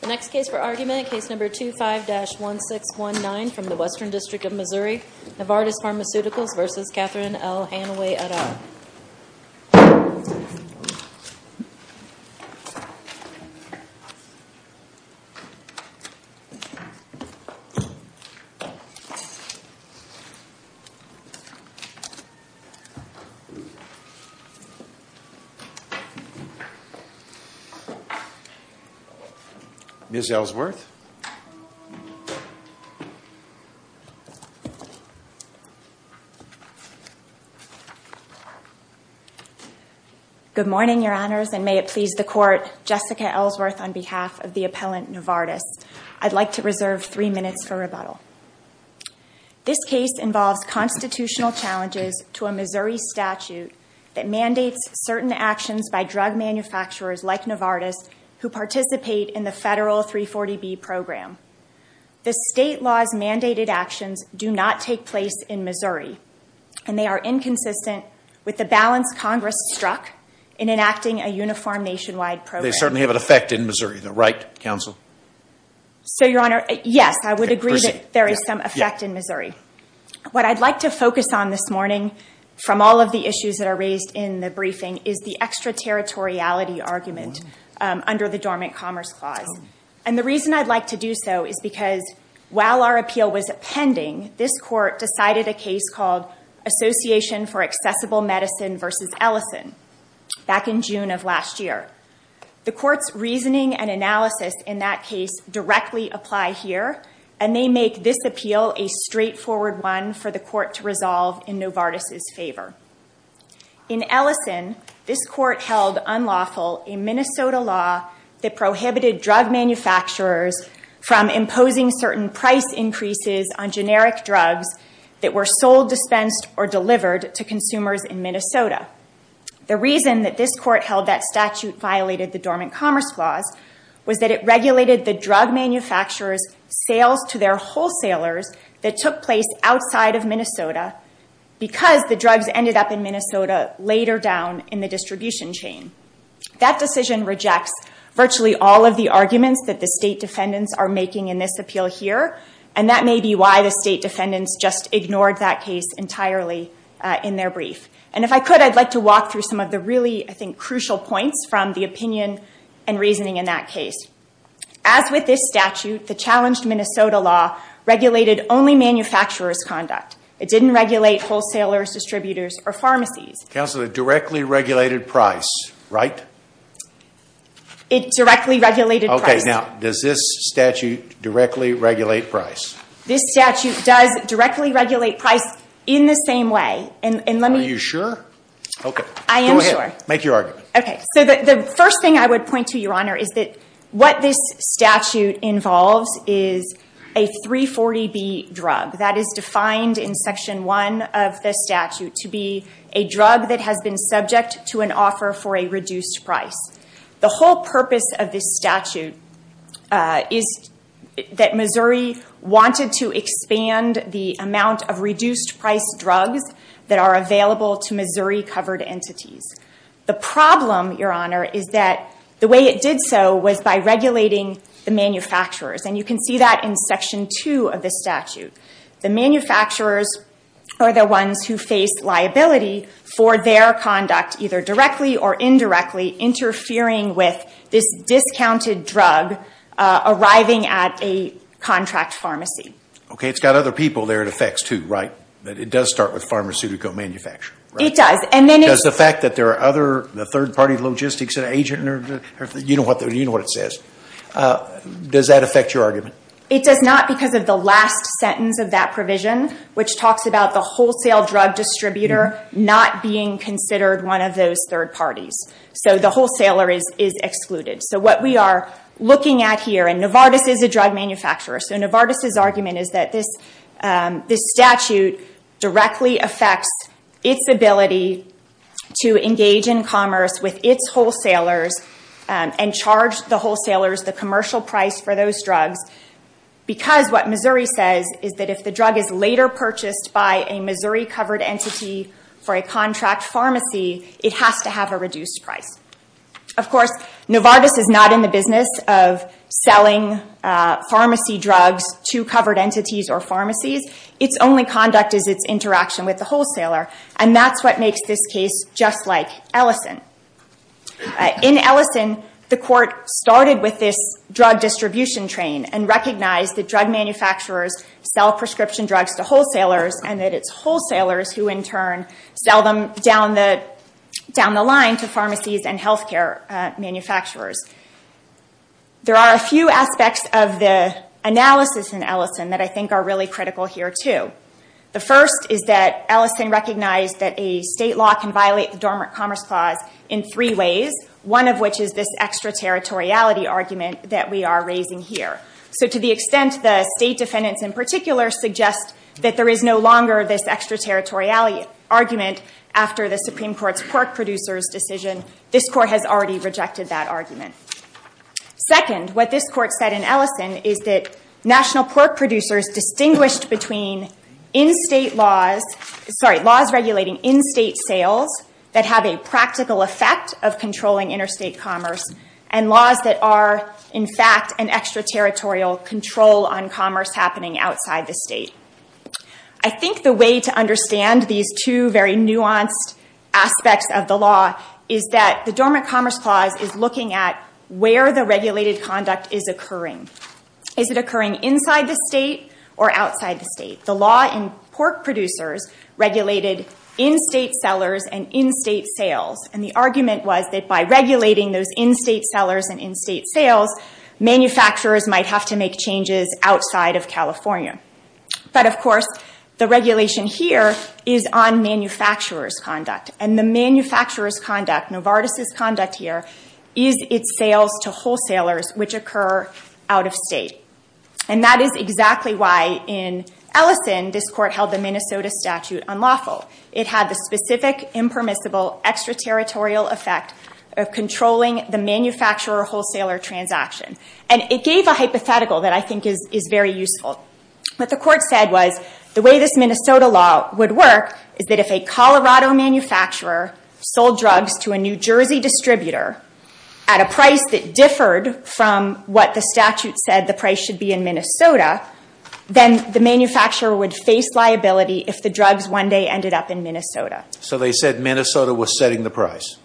The next case for argument, Case No. 25-1619 from the Western District of Missouri, Novartis Pharmaceuticals v. Catherine L. Hanaway et al. Ms. Ellsworth. Good morning, Your Honors, and may it please the Court, Jessica Ellsworth on behalf of the appellant, Novartis. I'd like to reserve three minutes for rebuttal. This case involves constitutional challenges to a Missouri statute that mandates certain actions by drug manufacturers like Novartis who participate in the federal 340B program. The state law's mandated actions do not take place in Missouri, and they are inconsistent with the balance Congress struck in enacting a uniform nationwide program. They certainly have an effect in Missouri, though, right, Counsel? So, Your Honor, yes, I would agree that there is some effect in Missouri. What I'd like to focus on this morning, from all of the issues that are raised in the briefing, is the extraterritoriality argument under the Dormant Commerce Clause. And the reason I'd like to do so is because, while our appeal was pending, this Court decided a case called Association for Accessible Medicine v. Ellison back in June of last year. The Court's reasoning and analysis in that case directly apply here, and they make this appeal a straightforward one for the Court to resolve in Novartis' favor. In Ellison, this Court held unlawful a Minnesota law that prohibited drug manufacturers from imposing certain price increases on generic drugs that were sold, dispensed, or delivered to consumers in Minnesota. The reason that this Court held that statute violated the Dormant Commerce Clause was that it regulated the drug manufacturers' sales to their wholesalers that took place outside of Minnesota because the drugs ended up in Minnesota later down in the distribution chain. That decision rejects virtually all of the arguments that the state defendants are making in this appeal here, and that may be why the state defendants just ignored that case entirely in their brief. And if I could, I'd like to walk through some of the really, I think, crucial points from the opinion and reasoning in that case. As with this statute, the challenged Minnesota law regulated only manufacturers' conduct. It didn't regulate wholesalers, distributors, or pharmacies. Counselor, it directly regulated price, right? It directly regulated price. Okay. Now, does this statute directly regulate price? This statute does directly regulate price in the same way. Are you sure? Okay. I am sure. Go ahead. Make your argument. Okay. So the first thing I would point to, Your Honor, is that what this statute involves is a 340B drug that is defined in Section 1 of the statute to be a drug that has been subject to an offer for a reduced price. The whole purpose of this statute is that Missouri wanted to expand the amount of reduced-price drugs that are available to Missouri-covered entities. The problem, Your Honor, is that the way it did so was by regulating the manufacturers. And you can see that in Section 2 of the statute. The manufacturers are the ones who face liability for their conduct, either directly or indirectly, interfering with this discounted drug arriving at a contract pharmacy. Okay. It's got other people there it affects, too, right? It does start with pharmaceutical manufacturers. It does. Does the fact that there are other third-party logistics agents, you know what it says. Does that affect your argument? It does not because of the last sentence of that provision, which talks about the wholesale drug distributor not being considered one of those third parties. So the wholesaler is excluded. So what we are looking at here, and Novartis is a drug manufacturer, so Novartis' argument is that this statute directly affects its ability to engage in commerce with its wholesalers and charge the wholesalers the commercial price for those drugs because what Missouri says is that if the drug is later purchased by a Missouri-covered entity for a contract pharmacy, it has to have a reduced price. Of course, Novartis is not in the business of selling pharmacy drugs to covered entities or pharmacies. Its only conduct is its interaction with the wholesaler, and that's what makes this case just like Ellison. In Ellison, the court started with this drug distribution train and recognized that drug manufacturers sell prescription drugs to wholesalers and that it's wholesalers who, in turn, sell them down the line to pharmacies and healthcare manufacturers. There are a few aspects of the analysis in Ellison that I think are really critical here, too. The first is that Ellison recognized that a state law can violate the Dormant Commerce Clause in three ways, one of which is this extraterritoriality argument that we are raising here. So to the extent the state defendants in particular suggest that there is no longer this extraterritoriality argument after the Supreme Court's pork producers decision, this court has already rejected that argument. Second, what this court said in Ellison is that national pork producers distinguished between in-state laws, sorry, laws regulating in-state sales that have a practical effect of controlling interstate commerce and laws that are, in fact, an extraterritorial control on commerce happening outside the state. I think the way to understand these two very nuanced aspects of the law is that the Dormant Commerce Clause is looking at where the regulated conduct is occurring. Is it occurring inside the state or outside the state? The law in pork producers regulated in-state sellers and in-state sales, and the argument was that by regulating those in-state sellers and in-state sales, manufacturers might have to make changes outside of California. But, of course, the regulation here is on manufacturer's conduct, and the manufacturer's conduct, Novartis' conduct here, is its sales to wholesalers which occur out of state. And that is exactly why in Ellison this court held the Minnesota statute unlawful. It had the specific, impermissible, extraterritorial effect of controlling the manufacturer-wholesaler transaction. And it gave a hypothetical that I think is very useful. What the court said was the way this Minnesota law would work is that if a Colorado manufacturer sold drugs to a New Jersey distributor at a price that differed from what the statute said the price should be in Minnesota, then the manufacturer would face liability if the drugs one day ended up in Minnesota. So they said Minnesota was setting the price?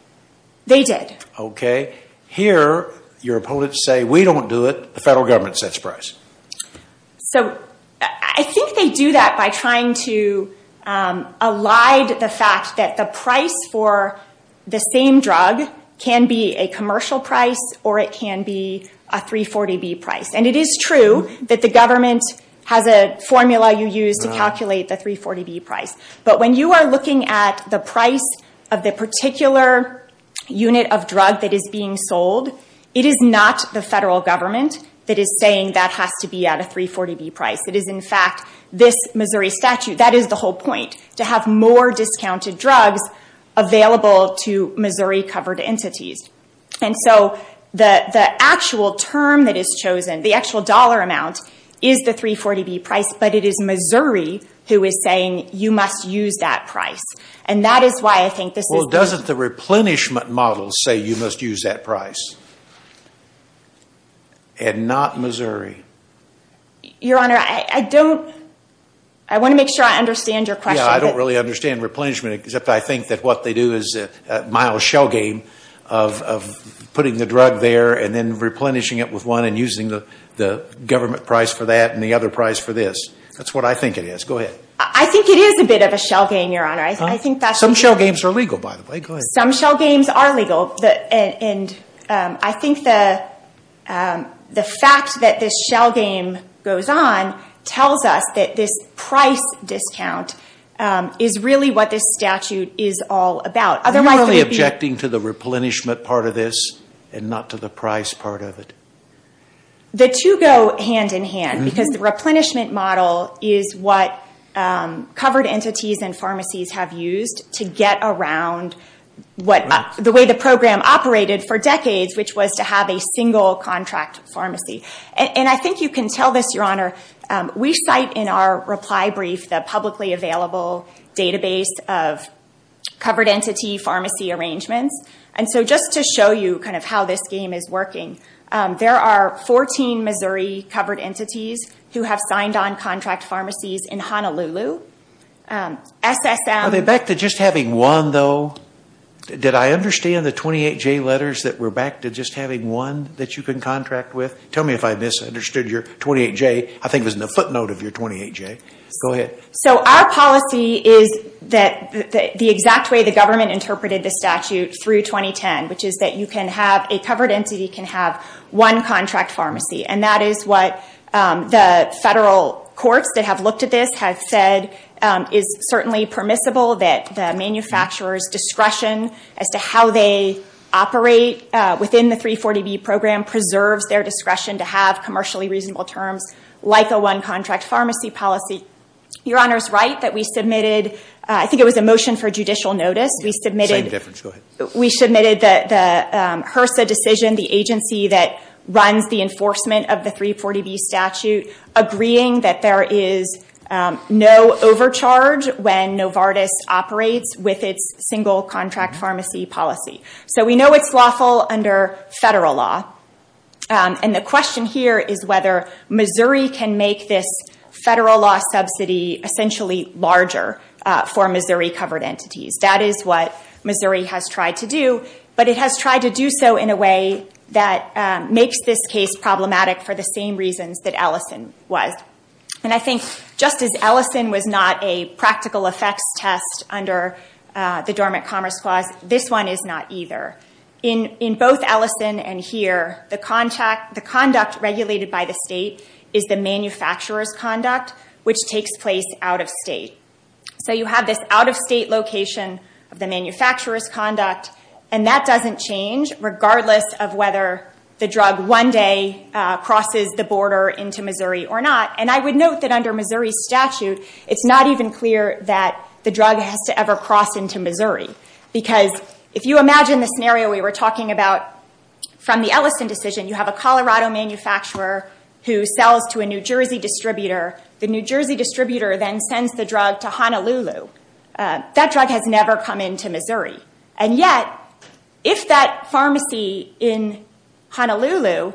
They did. Okay. Here, your opponents say, we don't do it, the federal government sets price. So, I think they do that by trying to elide the fact that the price for the same drug can be a commercial price, or it can be a 340B price. And it is true that the government has a formula you use to calculate the 340B price. But when you are looking at the price of the particular unit of drug that is being sold, it is not the federal government that is saying that has to be at a 340B price. It is, in fact, this Missouri statute. That is the whole point, to have more discounted drugs available to Missouri-covered entities. And so, the actual term that is chosen, the actual dollar amount, is the 340B price, but it is Missouri who is saying you must use that price. And that is why I think this is... Well, doesn't the replenishment model say you must use that price? And not Missouri. Your Honor, I don't... I want to make sure I understand your question. I don't really understand replenishment, except I think that what they do is a mild shell game of putting the drug there and then replenishing it with one and using the government price for that and the other price for this. That is what I think it is. Go ahead. I think it is a bit of a shell game, Your Honor. Some shell games are legal, by the way. Go ahead. Some shell games are legal. I think the fact that this shell game goes on tells us that this price discount is really what this statute is all about. Are you really objecting to the replenishment part of this and not to the price part of it? The two go hand-in-hand because the replenishment model is what covered entities and pharmacies have used to get around the way the program operated for decades, which was to have a single contract pharmacy. I think you can tell this, Your Honor. We cite in our reply brief the publicly available database of covered entity pharmacy arrangements. Just to show you how this game is working, there are 14 Missouri covered entities who have signed on contract pharmacies in Honolulu. SSM. Are they back to just having one, though? Did I understand the 28J letters that were back to just having one that you can contract with? Tell me if I misunderstood your 28J. I think it was in the footnote of your 28J. Go ahead. Our policy is the exact way the government interpreted the statute through 2010, which is that a covered entity can have one contract pharmacy. And that is what the federal courts that have looked at this have said is certainly permissible, that the manufacturer's discretion as to how they operate within the 340B program preserves their discretion to have commercially reasonable terms like a one-contract pharmacy policy. Your Honor is right that we submitted, I think it was a motion for judicial notice, we submitted the HRSA decision, the agency that runs the enforcement of the 340B statute, agreeing that there is no overcharge when Novartis operates with its single contract pharmacy policy. So we know it's lawful under federal law. And the question here is whether Missouri can make this federal law subsidy essentially larger for Missouri covered entities. That is what Missouri has tried to do. But it has tried to do so in a way that makes this case problematic for the same reasons that Ellison was. And I think just as Ellison was not a practical effects test under the Dormant Commerce Clause, this one is not either. In both Ellison and here, the conduct regulated by the state is the manufacturer's conduct, which takes place out of state. So you have this out-of-state location of the manufacturer's conduct, and that doesn't change regardless of whether the drug one day crosses the border into Missouri or not. And I would note that under Missouri's statute, it's not even clear that the drug has to ever cross into Missouri. Because if you imagine the scenario we were talking about from the Ellison decision, you have a Colorado manufacturer who sells to a New Jersey distributor. The New Jersey distributor then sends the drug to Honolulu. That drug has never come into Missouri. And yet, if that pharmacy in Honolulu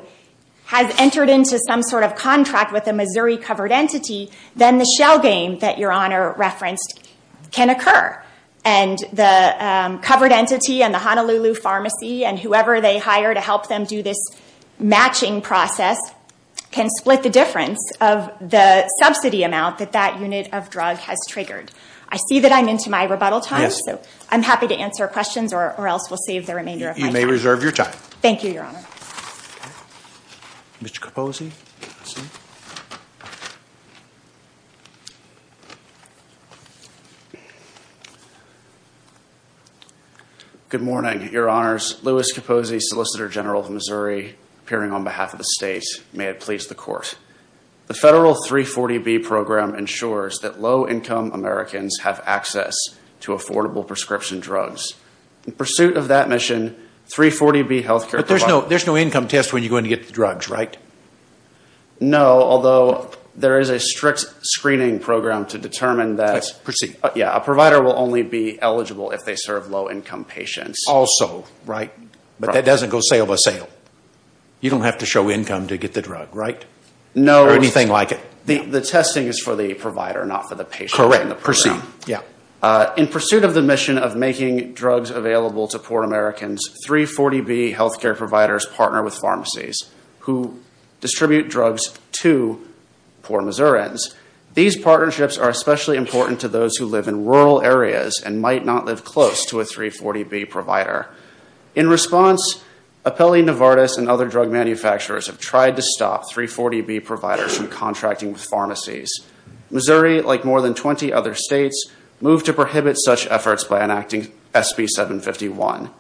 has entered into some sort of contract with a Missouri covered entity, then the shell game that Your Honor referenced can occur. And the covered entity and the Honolulu pharmacy and whoever they hire to help them do this matching process can split the difference of the subsidy amount that that unit of drug has triggered. I see that I'm into my rebuttal time, so I'm happy to answer questions or else we'll save the remainder of my time. You may reserve your time. Thank you, Your Honor. Mr. Capozzi. Good morning, Your Honors. Louis Capozzi, Solicitor General of Missouri, appearing on behalf of the state. May it please the Court. The federal 340B program ensures that low-income Americans have access to affordable prescription drugs. In pursuit of that mission, 340B health care provides- No, although there is a strict screening program to determine that- Yeah, a provider will only be eligible if they serve low-income patients. Also. Right. But that doesn't go sale by sale. You don't have to show income to get the drug, right? No. Or anything like it. The testing is for the provider, not for the patient. Proceed. Yeah. In pursuit of the mission of making drugs available to poor Americans, 340B health care providers partner with pharmacies who distribute drugs to poor Missourians. These partnerships are especially important to those who live in rural areas and might not live close to a 340B provider. In response, Apelli, Novartis, and other drug manufacturers have tried to stop 340B providers from contracting with pharmacies. Missouri, like more than 20 other states, moved to prohibit such efforts by enacting SB 751.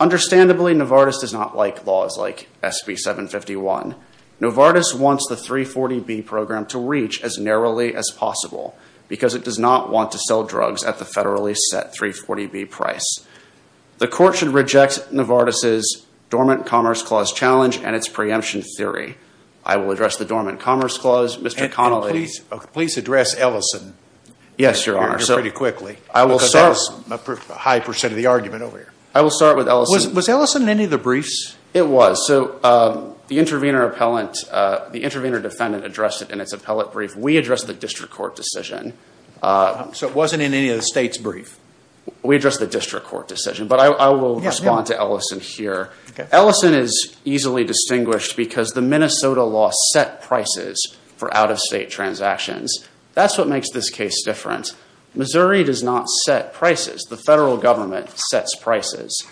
Understandably, Novartis does not like laws like SB 751. Novartis wants the 340B program to reach as narrowly as possible because it does not want to sell drugs at the federally set 340B price. The court should reject Novartis' Dormant Commerce Clause challenge and its preemption theory. I will address the Dormant Commerce Clause. Mr. Connolly- Please address Ellison. Yes, Your Honor. Pretty quickly. I will start- I will start with Ellison. Was Ellison in any of the briefs? It was. So the intervener defendant addressed it in its appellate brief. We addressed the district court decision. So it wasn't in any of the state's brief? We addressed the district court decision, but I will respond to Ellison here. Ellison is easily distinguished because the Minnesota law set prices for out-of-state transactions. That's what makes this case different. Missouri does not set prices. The federal government sets prices.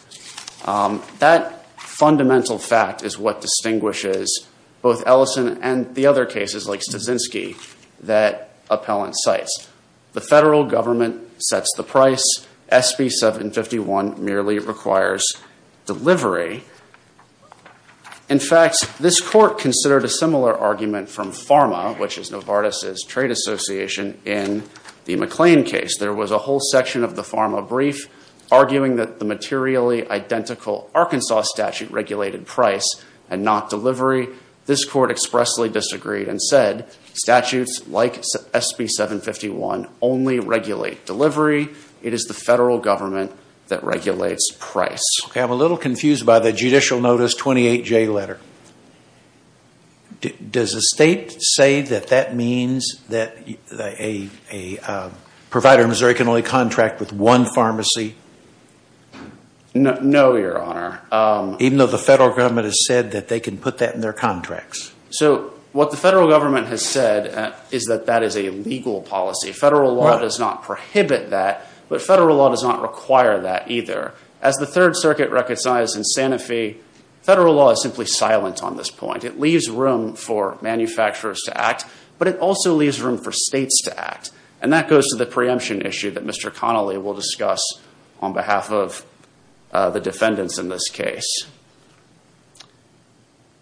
That fundamental fact is what distinguishes both Ellison and the other cases like Stasinski that appellant cites. The federal government sets the price. SB 751 merely requires delivery. In fact, this court considered a similar argument from PhRMA, which is Novartis' trade association, in the McLean case. There was a whole section of the PhRMA brief arguing that the materially identical Arkansas statute regulated price and not delivery. This court expressly disagreed and said statutes like SB 751 only regulate delivery. It is the federal government that regulates price. Okay. I'm a little confused by the judicial notice 28J letter. Does the state say that that means that a provider in Missouri can only contract with one pharmacy? No, Your Honor. Even though the federal government has said that they can put that in their contracts? So what the federal government has said is that that is a legal policy. Federal law does not prohibit that, but federal law does not require that either. As the Third Circuit recognized in Santa Fe, federal law is simply silent on this point. It leaves room for manufacturers to act, but it also leaves room for states to act, and that goes to the preemption issue that Mr. Connolly will discuss on behalf of the defendants in this case.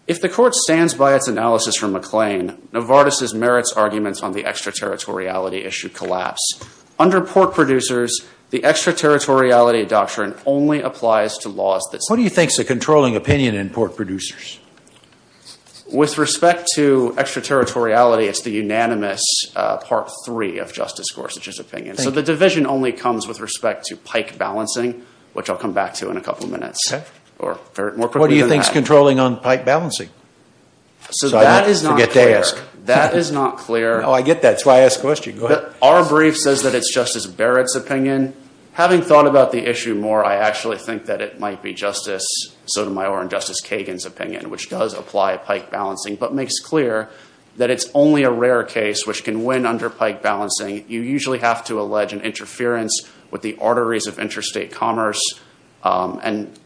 If the court stands by its analysis from McLean, Novartis' merits arguments on the extraterritoriality issue collapse. Under pork producers, the extraterritoriality doctrine only applies to laws that support it. What do you think is the controlling opinion in pork producers? With respect to extraterritoriality, it's the unanimous Part 3 of Justice Gorsuch's opinion. So the division only comes with respect to pike balancing, which I'll come back to in a couple of minutes. Or more quickly than that. What do you think is controlling on pike balancing? So that is not clear. That is not clear. Oh, I get that. That's why I asked the question. Our brief says that it's Justice Barrett's opinion. Having thought about the issue more, I actually think that it might be Justice Sotomayor and Justice Kagan's opinion, which does apply to pike balancing, but makes clear that it's only a rare case which can win under pike balancing. You usually have to allege an interference with the arteries of interstate commerce. And,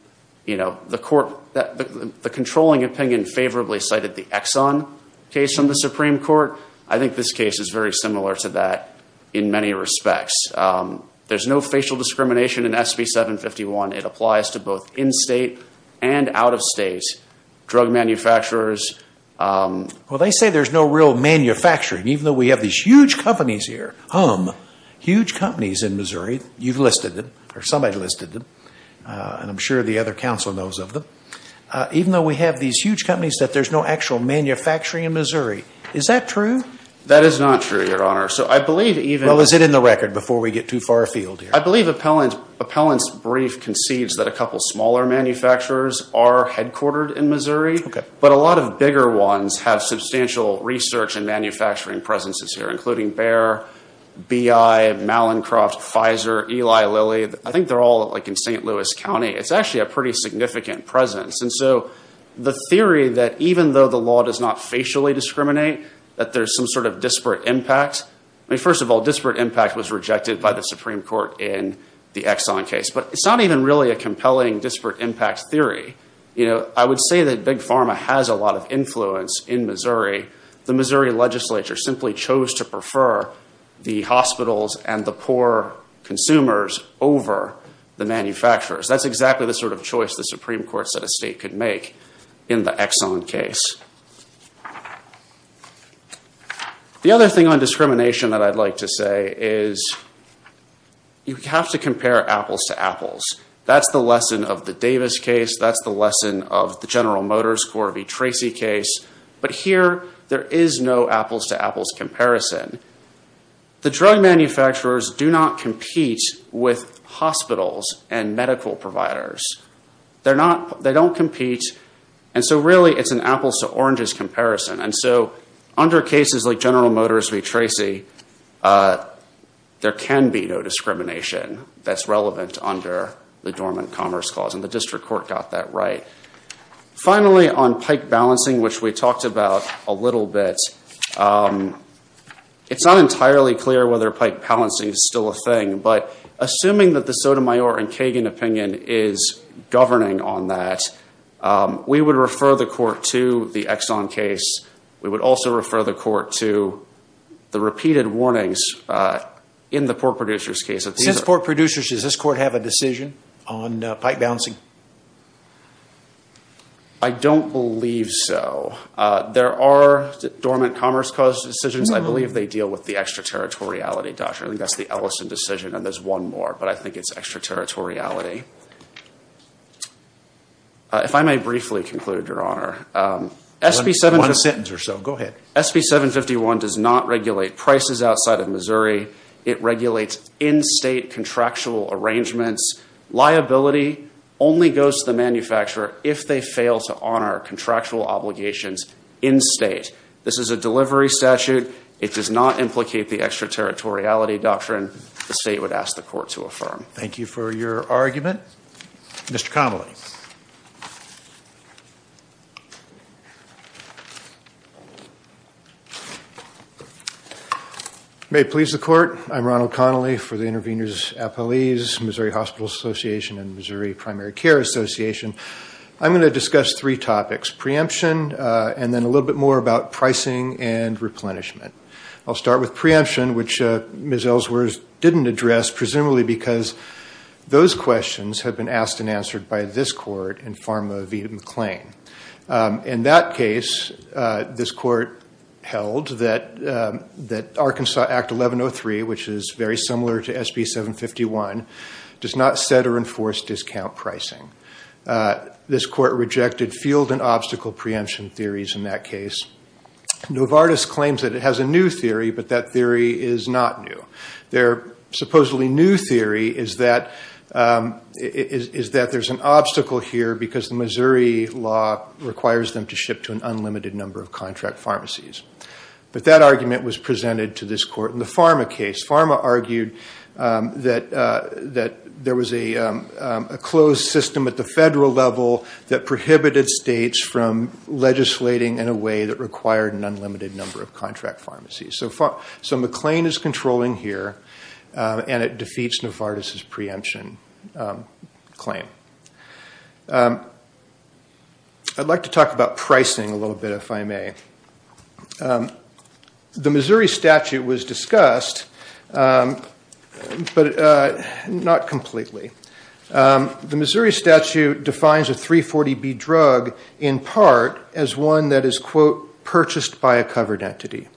you know, the court, the controlling opinion favorably cited the Exxon case from the Supreme Court. I think this case is very similar to that in many respects. There's no facial discrimination in SB 751. It applies to both in-state and out-of-state drug manufacturers. Well, they say there's no real manufacturing, even though we have these huge companies here. Hum. Huge companies in Missouri. You've listed them. Or somebody listed them. And I'm sure the other counsel knows of them. Even though we have these huge companies, that there's no actual manufacturing in Missouri. Is that true? That is not true, Your Honor. So I believe even... Well, is it in the record before we get too far afield here? I believe Appellant's brief concedes that a couple smaller manufacturers are headquartered in Missouri. Okay. But a lot of bigger ones have substantial research and manufacturing presences here, including Bayer, BI, Mallincroft, Pfizer, Eli Lilly. I think they're all, like, in St. Louis County. It's actually a pretty significant presence. And so the theory that even though the law does not facially discriminate, that there's some sort of disparate impact... I mean, first of all, disparate impact was rejected by the Supreme Court in the Exxon case. But it's not even really a compelling disparate impact theory. You know, I would say that Big Pharma has a lot of influence in Missouri. The Missouri legislature simply chose to prefer the hospitals and the poor consumers over the manufacturers. That's exactly the sort of choice the Supreme Court said a state could make in the Exxon case. The other thing on discrimination that I'd like to say is you have to compare apples to apples. That's the lesson of the Davis case. That's the lesson of the General Motors Corby-Tracy case. But here, there is no apples to apples comparison. The drug manufacturers do not compete with hospitals and medical providers. They don't compete. And so really, it's an apples to oranges comparison. And so under cases like General Motors Corby-Tracy, there can be no discrimination that's relevant under the Dormant Commerce Clause. And the district court got that right. Finally, on pike balancing, which we talked about a little bit, it's not entirely clear whether pike balancing is still a thing. But assuming that the Sotomayor and Kagan opinion is governing on that, we would refer the court to the Exxon case. We would also refer the court to the repeated warnings in the Pork Producers case. Does Pork Producers, does this court have a decision on pike balancing? I don't believe so. There are Dormant Commerce Clause decisions. I believe they deal with the extraterritoriality doctrine. I think that's the Ellison decision. And there's one more, but I think it's extraterritoriality. If I may briefly conclude, Your Honor. One sentence or so. Go ahead. SB 751 does not regulate prices outside of Missouri. It regulates in-state contractual arrangements. Liability only goes to the manufacturer if they fail to honor contractual obligations in-state. This is a delivery statute. It does not implicate the extraterritoriality doctrine. The state would ask the court to affirm. Thank you for your argument. Mr. Connolly. May it please the court. I'm Ronald Connolly for the Intervenors Appellees, Missouri Hospital Association and Missouri Primary Care Association. I'm going to discuss three topics, preemption and then a little bit more about pricing and replenishment. I'll start with preemption, which Ms. Ellsworth didn't address, presumably because those questions have been asked and answered by this court in Pharma v. McLean. In that case, this court held that Arkansas Act 1103, which is very similar to SB 751, does not set or enforce discount pricing. This court rejected field and obstacle preemption theories in that case. Novartis claims that it has a new theory, but that theory is not new. Their supposedly new theory is that there's an obstacle here because the Missouri law requires them to ship to an unlimited number of contract pharmacies. But that argument was presented to this court in the Pharma case. Pharma argued that there was a closed system at the federal level that prohibited states from legislating in a way that required an unlimited number of contract pharmacies. So McLean is controlling here, and it defeats Novartis' preemption claim. I'd like to talk about pricing a little bit, if I may. The Missouri statute was discussed, but not completely. The Missouri statute defines a 340B drug in part as one that is, quote, purchased by a covered entity.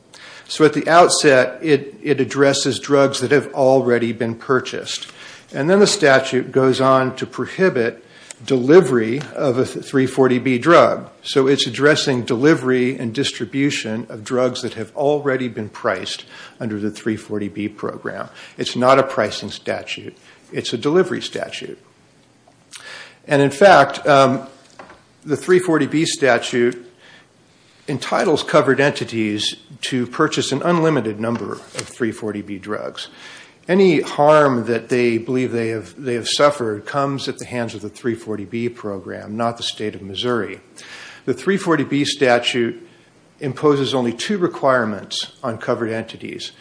So at the outset, it addresses drugs that have already been purchased. And then the statute goes on to prohibit delivery of a 340B drug. So it's addressing delivery and distribution of drugs that have already been priced under the 340B program. It's not a pricing statute. It's a delivery statute. And in fact, the 340B statute entitles covered entities to purchase an unlimited number of 340B drugs. Any harm that they believe they have suffered comes at the hands of the 340B program, not the state of Missouri. The 340B statute imposes only two requirements on covered entities,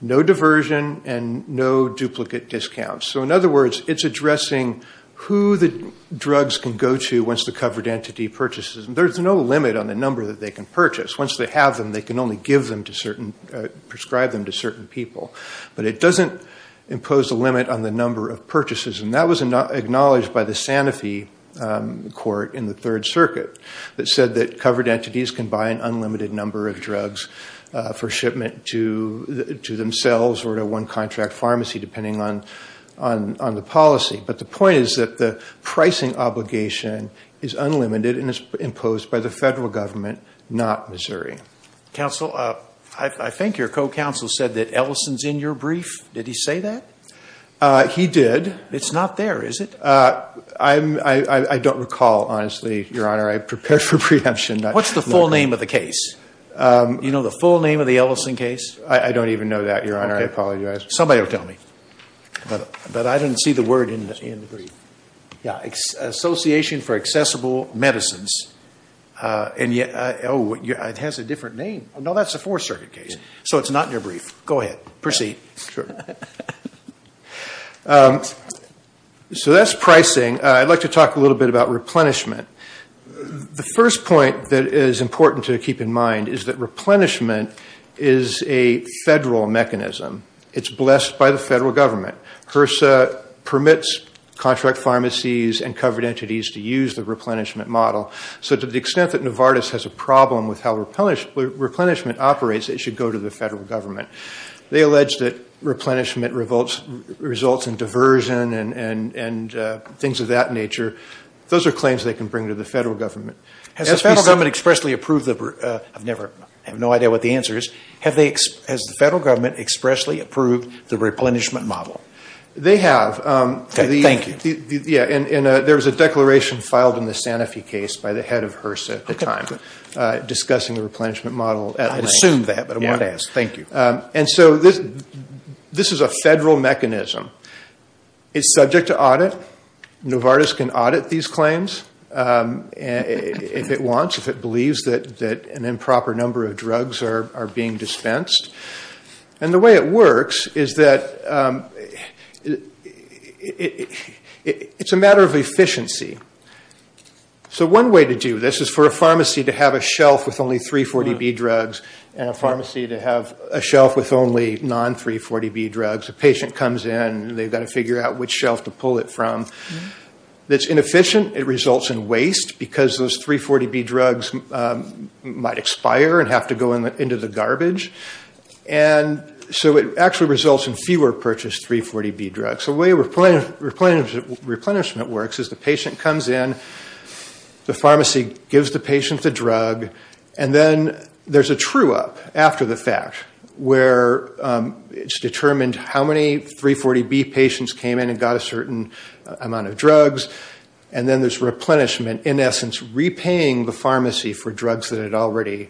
no diversion and no duplicate discounts. So in other words, it's addressing who the drugs can go to once the covered entity purchases them. There's no limit on the number that they can purchase. Once they have them, they can only prescribe them to certain people. But it doesn't impose a limit on the number of purchases. And that was acknowledged by the Sanofi court in the Third Circuit that said that covered entities can buy an unlimited number of drugs for shipment to themselves or to one contract pharmacy, depending on the policy. But the point is that the pricing obligation is unlimited and is imposed by the federal government, not Missouri. Counsel, I think your co-counsel said that Ellison's in your brief. Did he say that? He did. It's not there, is it? I don't recall, honestly, Your Honor. I prepared for preemption. What's the full name of the case? Do you know the full name of the Ellison case? I don't even know that, Your Honor. I apologize. Somebody will tell me. But I didn't see the word in the brief. Association for Accessible Medicines. Oh, it has a different name. No, that's a Fourth Circuit case. So it's not in your brief. Go ahead. Proceed. So that's pricing. I'd like to talk a little bit about replenishment. The first point that is important to keep in mind is that replenishment is a federal mechanism. It's blessed by the federal government. HRSA permits contract pharmacies and covered entities to use the replenishment model. So to the extent that Novartis has a problem with how replenishment operates, it should go to the federal government. They allege that replenishment results in diversion and things of that nature. Those are claims they can bring to the federal government. Has the federal government expressly approved the I have no idea what the answer is. Has the federal government expressly approved the replenishment model? They have. Thank you. There was a declaration filed in the Sanofi case by the head of HRSA at the time discussing the replenishment model. This is a federal mechanism. It's subject to audit. Novartis can audit these claims if it wants, if it believes that an improper number of drugs are being dispensed. The way it works is that it's a matter of efficiency. One way to do this is for a pharmacy to have a shelf with only 340B drugs and a pharmacy to have a shelf with only non-340B drugs. A patient comes in and they've got to figure out which shelf to pull it from. It's inefficient. It results in waste because those 340B drugs might expire and have to go into the garbage. So it actually results in fewer purchased 340B drugs. The way replenishment works is the patient comes in, the pharmacy gives the patient the drug, and then there's a true-up after the fact where it's determined how many 340B patients came in and got a certain amount of drugs. And then there's replenishment, in essence, repaying the pharmacy for drugs that it already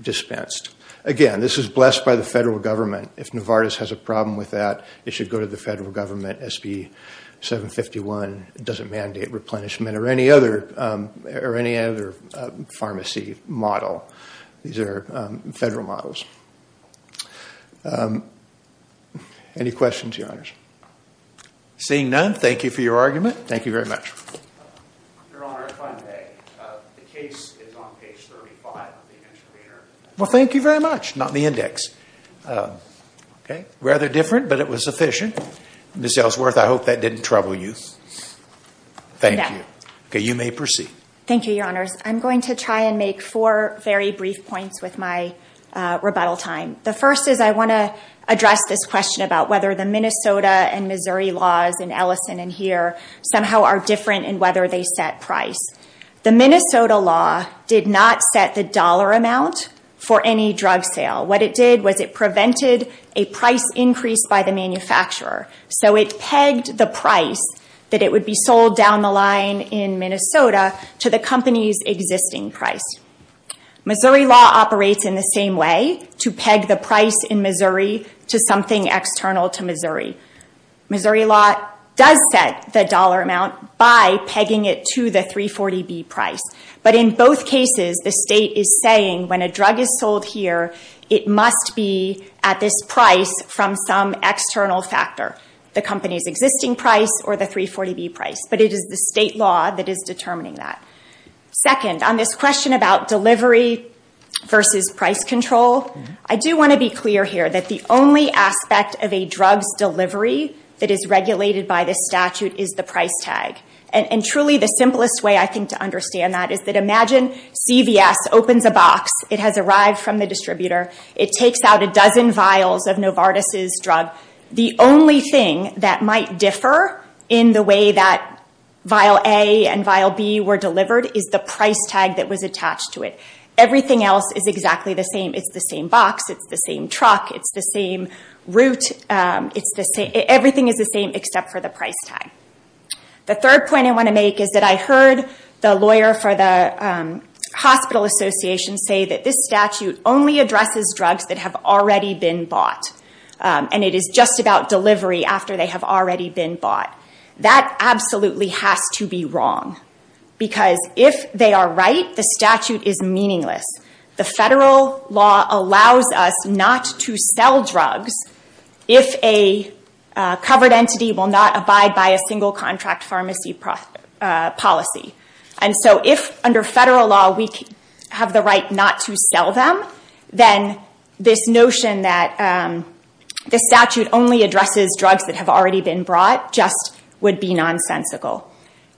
dispensed. Again, this is blessed by the federal government. If Novartis has a problem with that, it should go to the federal government. SB 751 doesn't mandate replenishment or any other pharmacy model. These are federal models. Any questions, Your Honors? Seeing none, thank you for your argument. Thank you very much. Your Honor, if I may, the case is on page 35 of the intervener. Well, thank you very much. Not in the index. Rather different, but it was efficient. Ms. Ellsworth, I hope that didn't trouble you. Thank you. Okay, you may proceed. Thank you, Your Honors. I'm going to try and make four very brief points with my rebuttal time. The first is I want to address this question about whether the Minnesota and Missouri laws in Ellison and here somehow are different in whether they set price. The Minnesota law did not set the dollar amount for any drug sale. What it did was it prevented a price increase by the manufacturer. So it pegged the price that it would be sold down the line in Minnesota to the company's existing price. Missouri law operates in the same way to peg the price in Missouri to something external to Missouri. Missouri law does set the dollar amount by pegging it to the 340B price. But in both cases, the state is saying when a drug is sold here, it must be at this price from some external factor, the company's existing price or the 340B price. But it is the state law that is determining that. Second, on this question about delivery versus price control, I do want to be clear here that the only aspect of a drug's delivery that is regulated by this statute is the price tag. And truly the simplest way I think to understand that is that imagine CVS opens a box. It has arrived from the distributor. It takes out a dozen vials of Novartis' drug. The only thing that might differ in the way that vial A and vial B were delivered is the price tag that was attached to it. Everything else is exactly the same. It's the same box. It's the same truck. It's the same route. Everything is the same except for the price tag. The third point I want to make is that I heard the lawyer for the hospital association say that this statute only addresses drugs that have already been bought. And it is just about delivery after they have already been bought. That absolutely has to be wrong. Because if they are right, the statute is meaningless. The federal law allows us not to sell drugs if a covered entity will not abide by a single contract pharmacy policy. And so if under federal law we have the right not to sell them, then this notion that the statute only addresses drugs that have already been brought just would be nonsensical.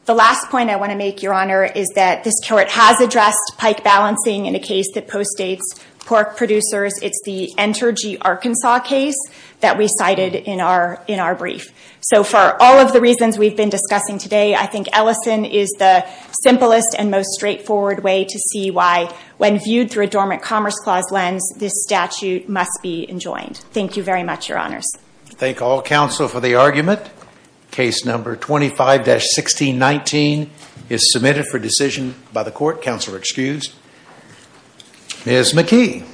The last point I want to make, Your Honor, is that this court has addressed pike balancing in a case that postdates pork producers. It's the Entergy, Arkansas case that we cited in our brief. So for all of the reasons we've been discussing today, I think Ellison is the simplest and most straightforward way to see why when viewed through a dormant commerce clause lens, this statute must be enjoined. Thank you very much, Your Honors. Thank all counsel for the argument. Case number 25-1619 is submitted for decision by the court. Counsel are excused. Ms. McKee.